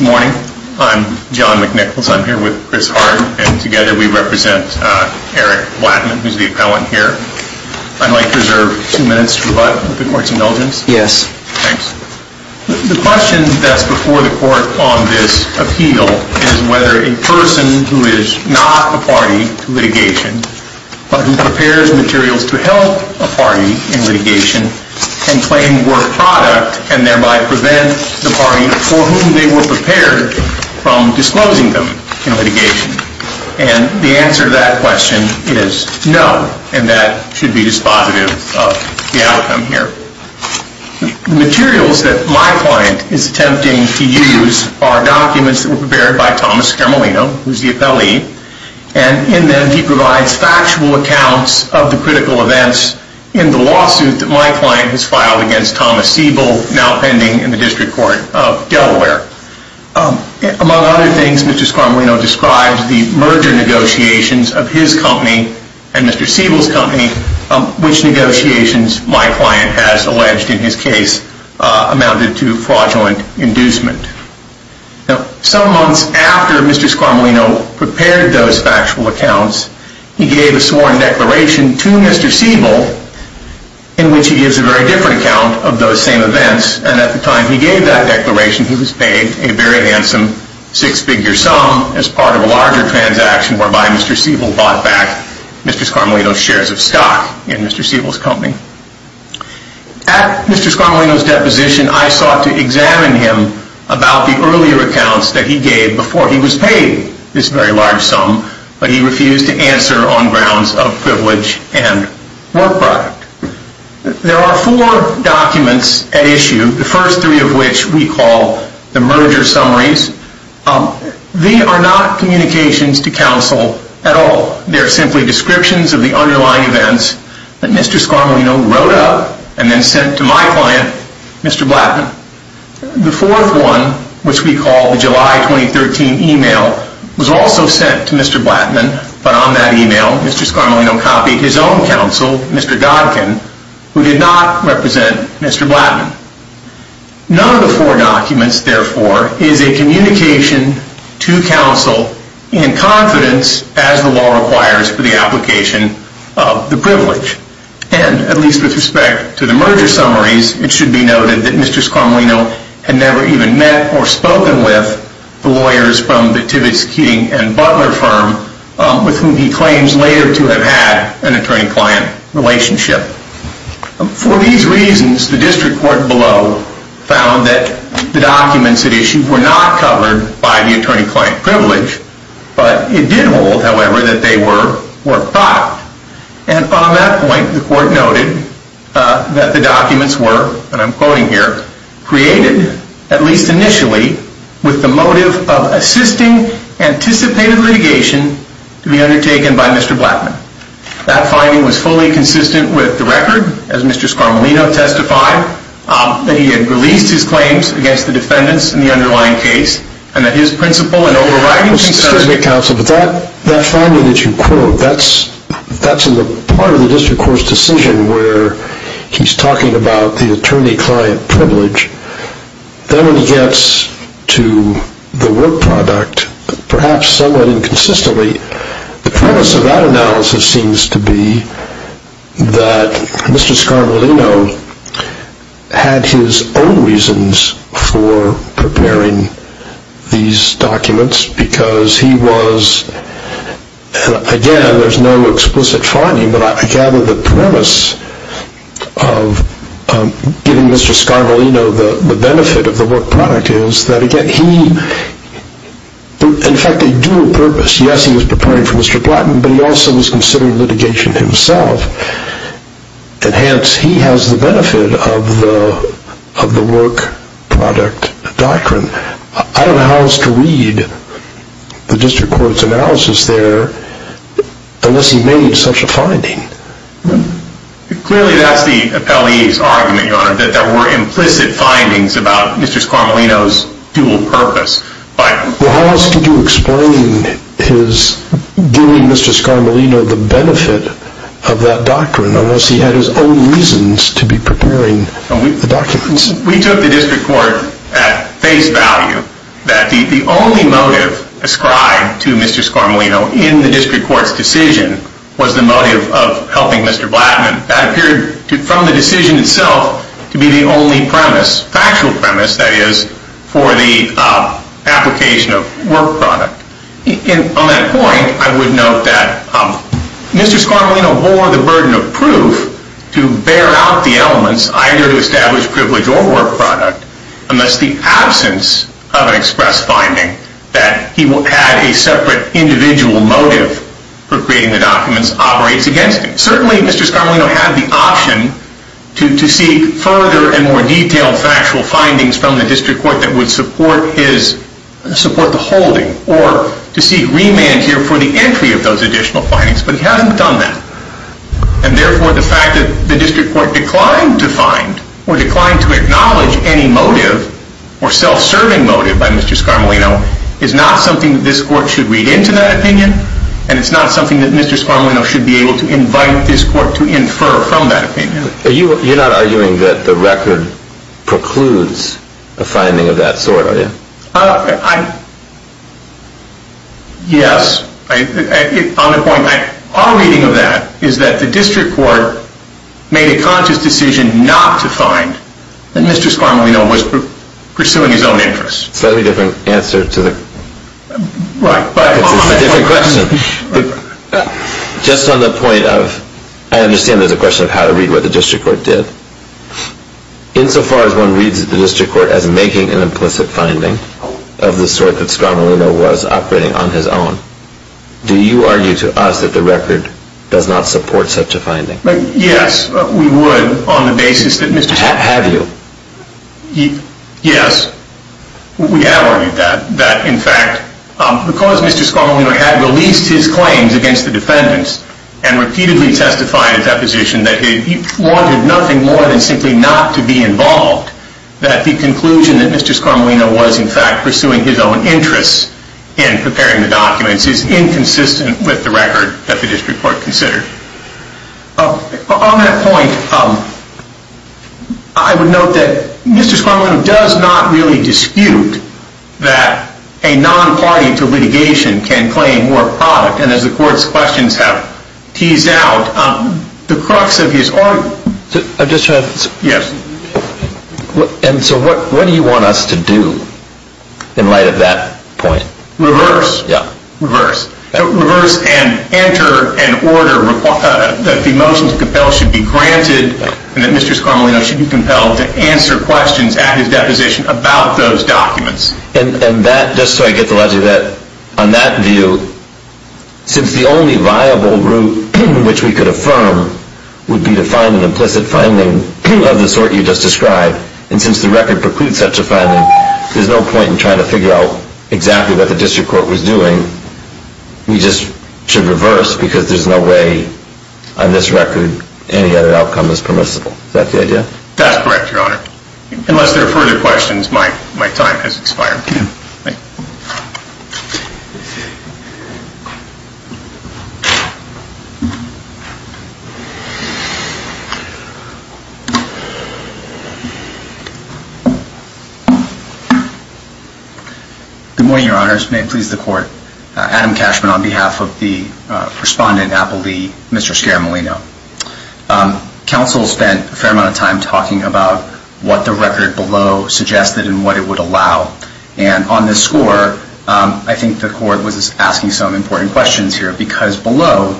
Good morning. I'm John McNichols. I'm here with Chris Hart, and together we represent Eric Blattman, who's the appellant here. I'd like to reserve two minutes for the court's indulgence. Yes. Thanks. The question that's before the court on this appeal is whether a person who is not a party to litigation, but who prepares materials to help a party in litigation, can claim work product and thereby prevent the party for whom they were prepared from disclosing them in litigation. And the answer to that question is no, and that should be dispositive of the outcome here. The materials that my client is attempting to use are documents that were prepared by Thomas Scaramellino, who's the appellee, and in them he provides factual accounts of the critical events in the lawsuit that my client has filed against Thomas Siebel, now pending in the District Court of Delaware. Among other things, Mr. Scaramellino describes the merger negotiations of his company and Mr. Siebel's company, which negotiations my client has alleged in his case amounted to fraudulent inducement. Some months after Mr. Scaramellino prepared those factual accounts, he gave a sworn declaration to Mr. Siebel, in which he gives a very different account of those same events, and at the time he gave that declaration, he was paid a very handsome six-figure sum as part of a larger transaction, whereby Mr. Siebel bought back Mr. Scaramellino's shares of stock in Mr. Siebel's company. At Mr. Scaramellino's deposition, I sought to examine him about the earlier accounts that he gave before he was paid this very large sum, but he refused to answer on grounds of privilege and work product. There are four documents at issue, the first three of which we call the merger summaries. They are not communications to counsel at all. They are simply descriptions of the underlying events that Mr. Scaramellino wrote up and then sent to my client, Mr. Blattman. The fourth one, which we call the July 2013 email, was also sent to Mr. Blattman, but on that email Mr. Scaramellino copied his own counsel, Mr. Godkin, who did not represent Mr. Blattman. None of the four documents, therefore, is a communication to counsel in confidence as the law requires for the application of the privilege. And, at least with respect to the merger summaries, it should be noted that Mr. Scaramellino had never even met or spoken with the lawyers from the Tibbetts, King and Butler firm with whom he claims later to have had an attorney-client relationship. For these reasons, the district court below found that the documents at issue were not covered by the attorney-client privilege, but it did hold, however, that they were work product. And, on that point, the court noted that the documents were, and I'm quoting here, created, at least initially, with the motive of assisting anticipated litigation to be undertaken by Mr. Blattman. That finding was fully consistent with the record, as Mr. Scaramellino testified, that he had released his claims against the defendants in the underlying case and that his principle in overriding concerns That finding that you quote, that's in the part of the district court's decision where he's talking about the attorney-client privilege. Then, when he gets to the work product, perhaps somewhat inconsistently, the premise of that analysis seems to be that Mr. Scaramellino had his own reasons for preparing these documents because he was, again, there's no explicit finding, but I gather the premise of giving Mr. Scaramellino the benefit of the work product is that, again, he, in fact, a dual purpose. Yes, he was preparing for Mr. Blattman, but he also was considering litigation himself. And, hence, he has the benefit of the work product doctrine. I don't know how else to read the district court's analysis there unless he made such a finding. Clearly, that's the appellee's argument, Your Honor, that there were implicit findings about Mr. Scaramellino's dual purpose. Well, how else could you explain his giving Mr. Scaramellino the benefit of that doctrine unless he had his own reasons to be preparing the documents? We took the district court at face value that the only motive ascribed to Mr. Scaramellino in the district court's decision was the motive of helping Mr. Blattman. That appeared, from the decision itself, to be the only premise, factual premise, that is, for the application of work product. And, on that point, I would note that Mr. Scaramellino bore the burden of proof to bear out the elements either to establish privilege or work product unless the absence of an express finding that he had a separate individual motive for creating the documents operates against him. Certainly, Mr. Scaramellino had the option to seek further and more detailed factual findings from the district court that would support the holding or to seek remand here for the entry of those additional findings, but he hadn't done that. And, therefore, the fact that the district court declined to find or declined to acknowledge any motive or self-serving motive by Mr. Scaramellino is not something that this court should read into that opinion and it's not something that Mr. Scaramellino should be able to invite this court to infer from that opinion. You're not arguing that the record precludes a finding of that sort, are you? Yes. Our reading of that is that the district court made a conscious decision not to find that Mr. Scaramellino was pursuing his own interests. That's a slightly different answer to the... Right, but... It's a different question. Just on the point of... I understand there's a question of how to read what the district court did. Insofar as one reads the district court as making an implicit finding of the sort that Scaramellino was operating on his own, do you argue to us that the record does not support such a finding? Yes, we would on the basis that Mr. Scaramellino... Have you? Yes, we have argued that. That, in fact, because Mr. Scaramellino had released his claims against the defendants and repeatedly testified in deposition that he wanted nothing more than simply not to be involved, that the conclusion that Mr. Scaramellino was, in fact, pursuing his own interests in preparing the documents is inconsistent with the record that the district court considered. On that point, I would note that Mr. Scaramellino does not really dispute that a non-party to litigation can claim more product, and as the court's questions have teased out, the crux of his argument... I'm just trying to... Yes. And so what do you want us to do in light of that point? Reverse. Yeah. Reverse. Reverse and enter an order that the motions compelled should be granted and that Mr. Scaramellino should be compelled to answer questions at his deposition about those documents. And that, just so I get the logic of that, on that view, since the only viable route in which we could affirm would be to find an implicit finding of the sort you just described, and since the record precludes such a finding, there's no point in trying to figure out exactly what the district court was doing. We just should reverse because there's no way on this record any other outcome is permissible. Is that the idea? That's correct, Your Honor. Unless there are further questions, my time has expired. Good morning, Your Honors. May it please the court. Adam Cashman on behalf of the respondent, Appleby, Mr. Scaramellino. Counsel spent a fair amount of time talking about what the record below suggested and what it would allow. And on this score, I think the court was asking some important questions here because below,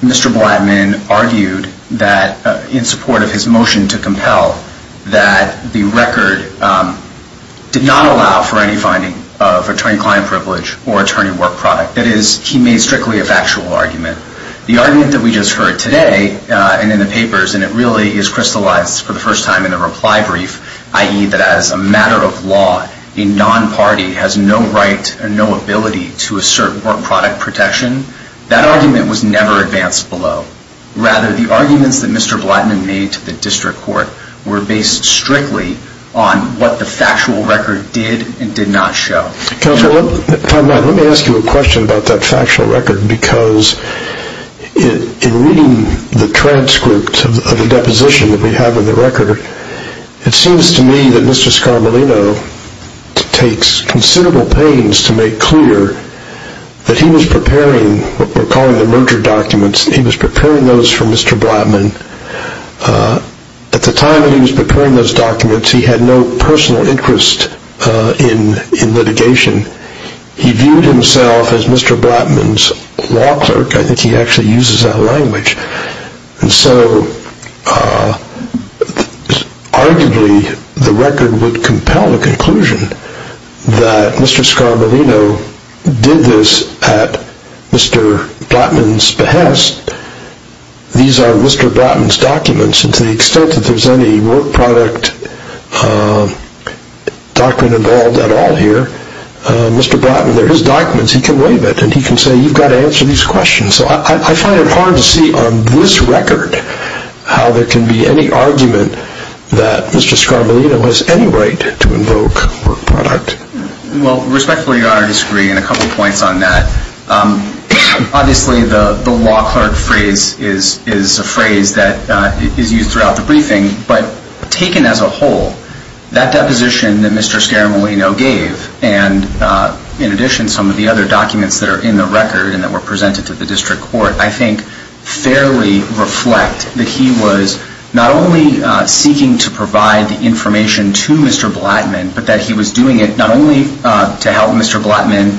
Mr. Blattman argued that, in support of his motion to compel, that the record did not allow for any finding of attorney-client privilege or attorney work product. That is, he made strictly a factual argument. The argument that we just heard today and in the papers, and it really is crystallized for the first time in the reply brief, i.e., that as a matter of law, a non-party has no right or no ability to assert work product protection, that argument was never advanced below. Rather, the arguments that Mr. Blattman made to the district court were based strictly on what the factual record did and did not show. Counsel, let me ask you a question about that factual record because in reading the transcript of the deposition that we have in the record, it seems to me that Mr. Scaramellino takes considerable pains to make clear that he was preparing what we're calling the merger documents. He was preparing those for Mr. Blattman. At the time that he was preparing those documents, he had no personal interest in litigation. He viewed himself as Mr. Blattman's law clerk. I think he actually uses that language. And so, arguably, the record would compel the conclusion that Mr. Scaramellino did this at Mr. Blattman's behest. These are Mr. Blattman's documents, and to the extent that there's any work product doctrine involved at all here, Mr. Blattman, they're his documents. He can waive it, and he can say, you've got to answer these questions. So I find it hard to see on this record how there can be any argument that Mr. Scaramellino has any right to invoke work product. Well, respectfully, Your Honor, I disagree on a couple points on that. Obviously, the law clerk phrase is a phrase that is used throughout the briefing, but taken as a whole, that deposition that Mr. Scaramellino gave, and in addition some of the other documents that are in the record and that were presented to the district court, I think fairly reflect that he was not only seeking to provide the information to Mr. Blattman, but that he was doing it not only to help Mr. Blattman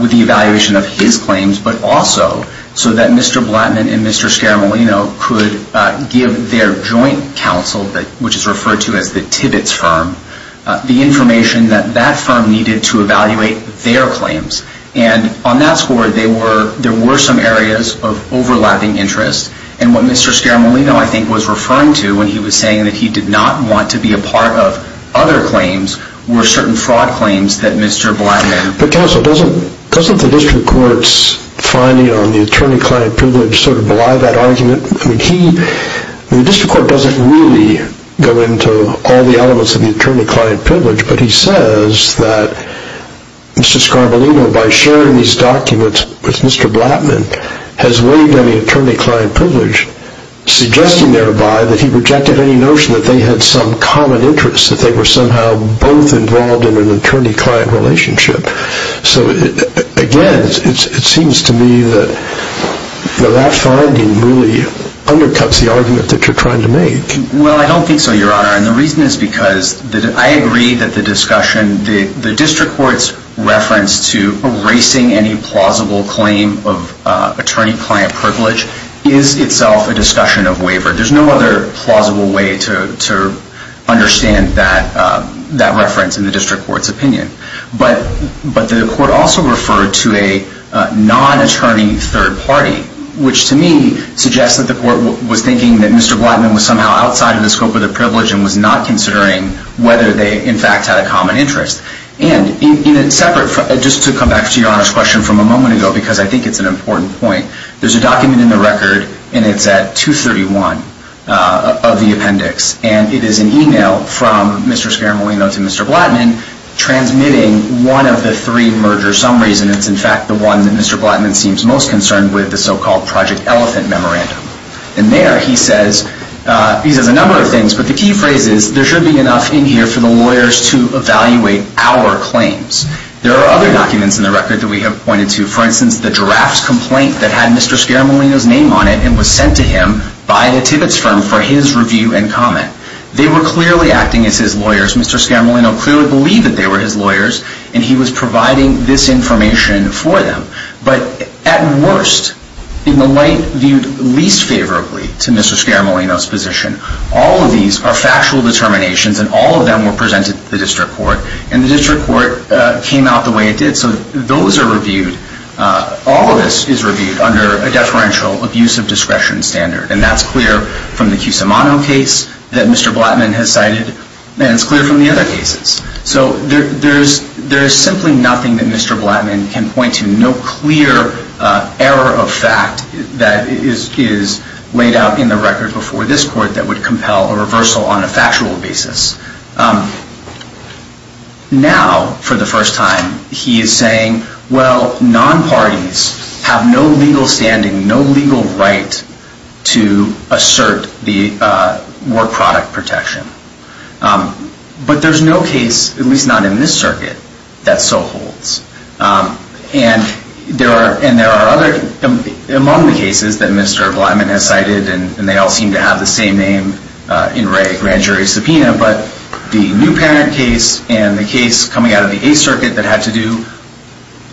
with the evaluation of his claims, but also so that Mr. Blattman and Mr. Scaramellino could give their joint counsel, which is referred to as the Tibbetts firm, the information that that firm needed to evaluate their claims. And on that score, there were some areas of overlapping interest, and what Mr. Scaramellino, I think, was referring to when he was saying that he did not want to be a part of other claims were certain fraud claims that Mr. Blattman... But counsel, doesn't the district court's finding on the attorney-client privilege sort of belie that argument? I mean, the district court doesn't really go into all the elements of the attorney-client privilege, but he says that Mr. Scaramellino, by sharing these documents with Mr. Blattman, has waived any attorney-client privilege, suggesting thereby that he rejected any notion that they had some common interest, that they were somehow both involved in an attorney-client relationship. So, again, it seems to me that that finding really undercuts the argument that you're trying to make. Well, I don't think so, Your Honor, and the reason is because I agree that the discussion, the district court's reference to erasing any plausible claim of attorney-client privilege is itself a discussion of waiver. There's no other plausible way to understand that reference in the district court's opinion. But the court also referred to a non-attorney third party, which to me suggests that the court was thinking that Mr. Blattman was somehow outside of the scope of the privilege and was not considering whether they, in fact, had a common interest. And just to come back to Your Honor's question from a moment ago, because I think it's an important point, there's a document in the record, and it's at 231 of the appendix, and it is an email from Mr. Speramolino to Mr. Blattman transmitting one of the three merger summaries, and it's, in fact, the one that Mr. Blattman seems most concerned with, the so-called Project Elephant Memorandum. And there he says a number of things, but the key phrase is, there should be enough in here for the lawyers to evaluate our claims. There are other documents in the record that we have pointed to. For instance, the drafts complaint that had Mr. Speramolino's name on it and was sent to him by the Tibbetts firm for his review and comment. They were clearly acting as his lawyers. Mr. Speramolino clearly believed that they were his lawyers, and he was providing this information for them. But at worst, in the light viewed least favorably to Mr. Speramolino's position, all of these are factual determinations, and all of them were presented to the district court, and the district court came out the way it did. So those are reviewed. All of this is reviewed under a deferential abuse of discretion standard, and that's clear from the Cusimano case that Mr. Blattman has cited, and it's clear from the other cases. So there is simply nothing that Mr. Blattman can point to, no clear error of fact that is laid out in the record before this court that would compel a reversal on a factual basis. Now, for the first time, he is saying, well, non-parties have no legal standing, no legal right to assert the work product protection. But there's no case, at least not in this circuit, that so holds. And there are other, among the cases that Mr. Blattman has cited, and they all seem to have the same name in grand jury subpoena, but the new parent case and the case coming out of the Eighth Circuit that had to do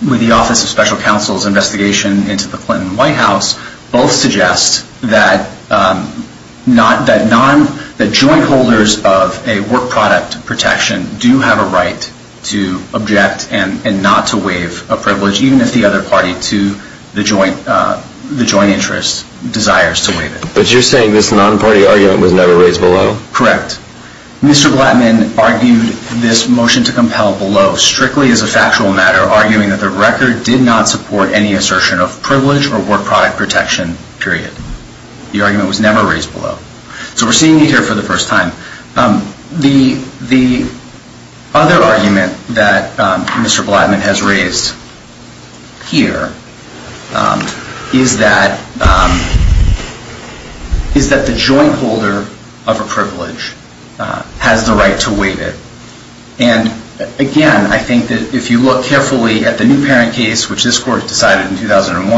with the Office of Special Counsel's investigation into the Clinton White House both suggest that joint holders of a work product protection do have a right to object and not to waive a privilege, even if the other party to the joint interest desires to waive it. But you're saying this non-party argument was never raised below? Correct. Mr. Blattman argued this motion to compel below strictly as a factual matter, arguing that the record did not support any assertion of privilege or work product protection, period. The argument was never raised below. So we're seeing it here for the first time. The other argument that Mr. Blattman has raised here is that the joint holder of a privilege has the right to waive it. And again, I think that if you look carefully at the new parent case, which this Court decided in 2001,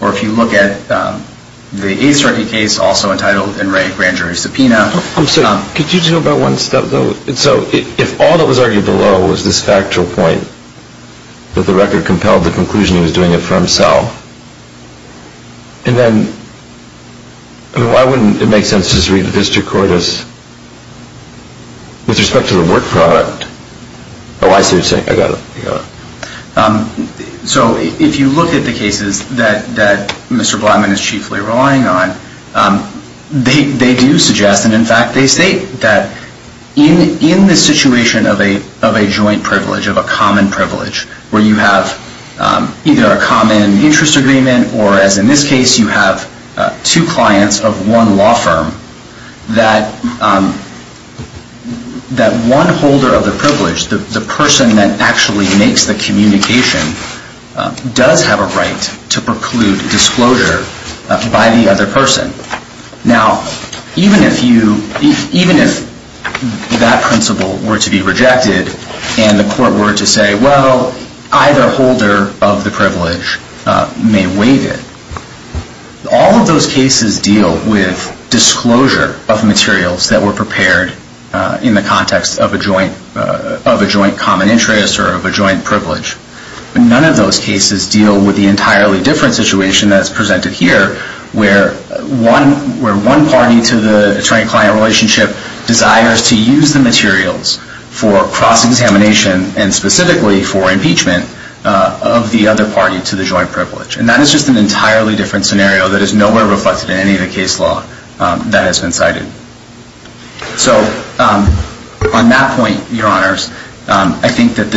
or if you look at the Eighth Circuit case, also entitled In Re Grand Jury Subpoena. Could you just go back one step, though? So if all that was argued below was this factual point, that the record compelled the conclusion he was doing it for himself, then why wouldn't it make sense to just read the district court as with respect to the work product? Oh, I see what you're saying. I got it. So if you look at the cases that Mr. Blattman is chiefly relying on, they do suggest, and in fact they state, that in the situation of a joint privilege, of a common privilege, where you have either a common interest agreement, or as in this case, you have two clients of one law firm, that one holder of the privilege, the person that actually makes the communication, does have a right to preclude disclosure by the other person. Now, even if that principle were to be rejected, and the court were to say, well, either holder of the privilege may waive it, all of those cases deal with disclosure of materials that were prepared in the context of a joint common interest or of a joint privilege. None of those cases deal with the entirely different situation that's presented here, where one party to the attorney-client relationship desires to use the materials for cross-examination and specifically for impeachment of the other party to the joint privilege. And that is just an entirely different scenario that is nowhere reflected in any of the case law that has been cited. So, on that point, your honors, I think that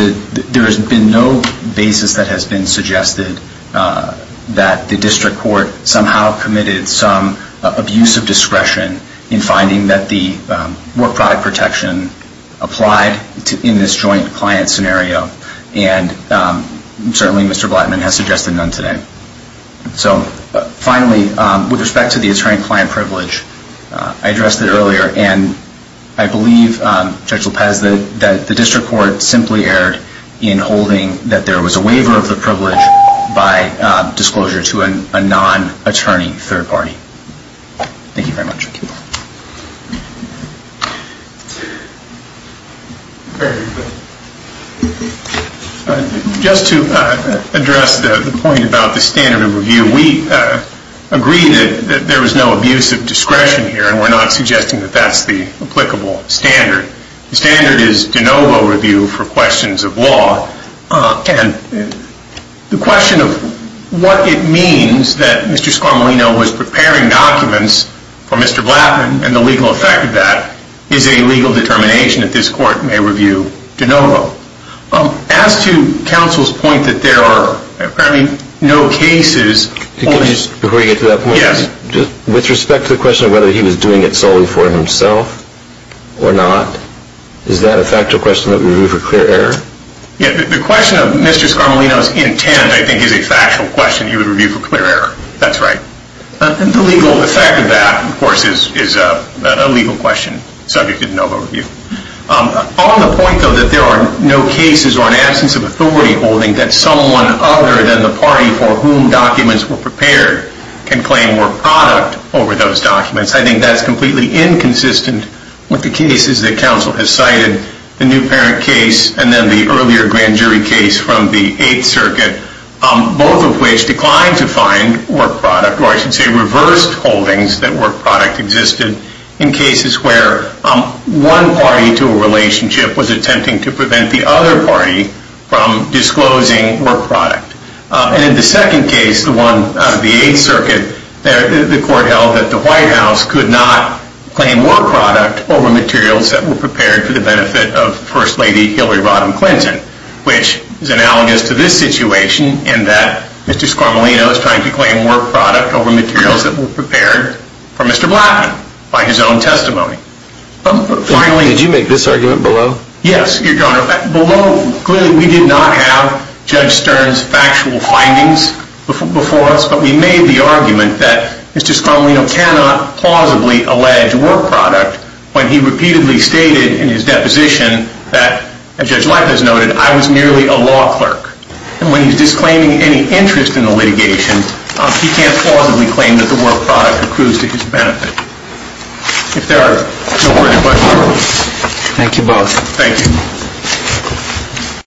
there has been no basis that has been suggested that the district court somehow committed some abuse of discretion in finding that the work product protection applied in this joint client scenario, and certainly Mr. Blattman has suggested none today. So, finally, with respect to the attorney-client privilege, I addressed it earlier, and I believe, Judge Lopez, that the district court simply erred in holding that there was a waiver of the privilege by disclosure to a non-attorney third party. Thank you very much. Thank you. Just to address the point about the standard of review, we agree that there was no abuse of discretion here, and we're not suggesting that that's the applicable standard. The standard is de novo review for questions of law, and the question of what it means that Mr. Scarmolino was preparing documents for Mr. Blattman and the legal effect of that is a legal determination that this court may review de novo. As to counsel's point that there are apparently no cases on his... Before you get to that point... Yes. With respect to the question of whether he was doing it solely for himself or not, is that a factual question that would be reviewed for clear error? Yes, the question of Mr. Scarmolino's intent, I think, is a factual question he would review for clear error. That's right. And the legal effect of that, of course, is a legal question, subject to de novo review. On the point, though, that there are no cases or an absence of authority holding that someone other than the party for whom documents were prepared can claim more product over those documents, I think that's completely inconsistent with the cases that counsel has cited, the new parent case and then the earlier grand jury case from the Eighth Circuit, both of which declined to find work product, or I should say reversed holdings that work product existed in cases where one party to a relationship was attempting to prevent the other party from disclosing work product. And in the second case, the one out of the Eighth Circuit, the court held that the White House could not claim work product over materials that were prepared for the benefit of First Lady Hillary Rodham Clinton, which is analogous to this situation, in that Mr. Scarmolino is trying to claim work product over materials that were prepared for Mr. Blackman by his own testimony. Did you make this argument below? Yes, Your Honor. Below, clearly we did not have Judge Stern's factual findings before us, but we made the argument that Mr. Scarmolino cannot plausibly allege work product when he repeatedly stated in his deposition that, as Judge Leith has noted, I was merely a law clerk. And when he's disclaiming any interest in the litigation, he can't plausibly claim that the work product accrues to his benefit. If there are no further questions. Thank you both. Thank you.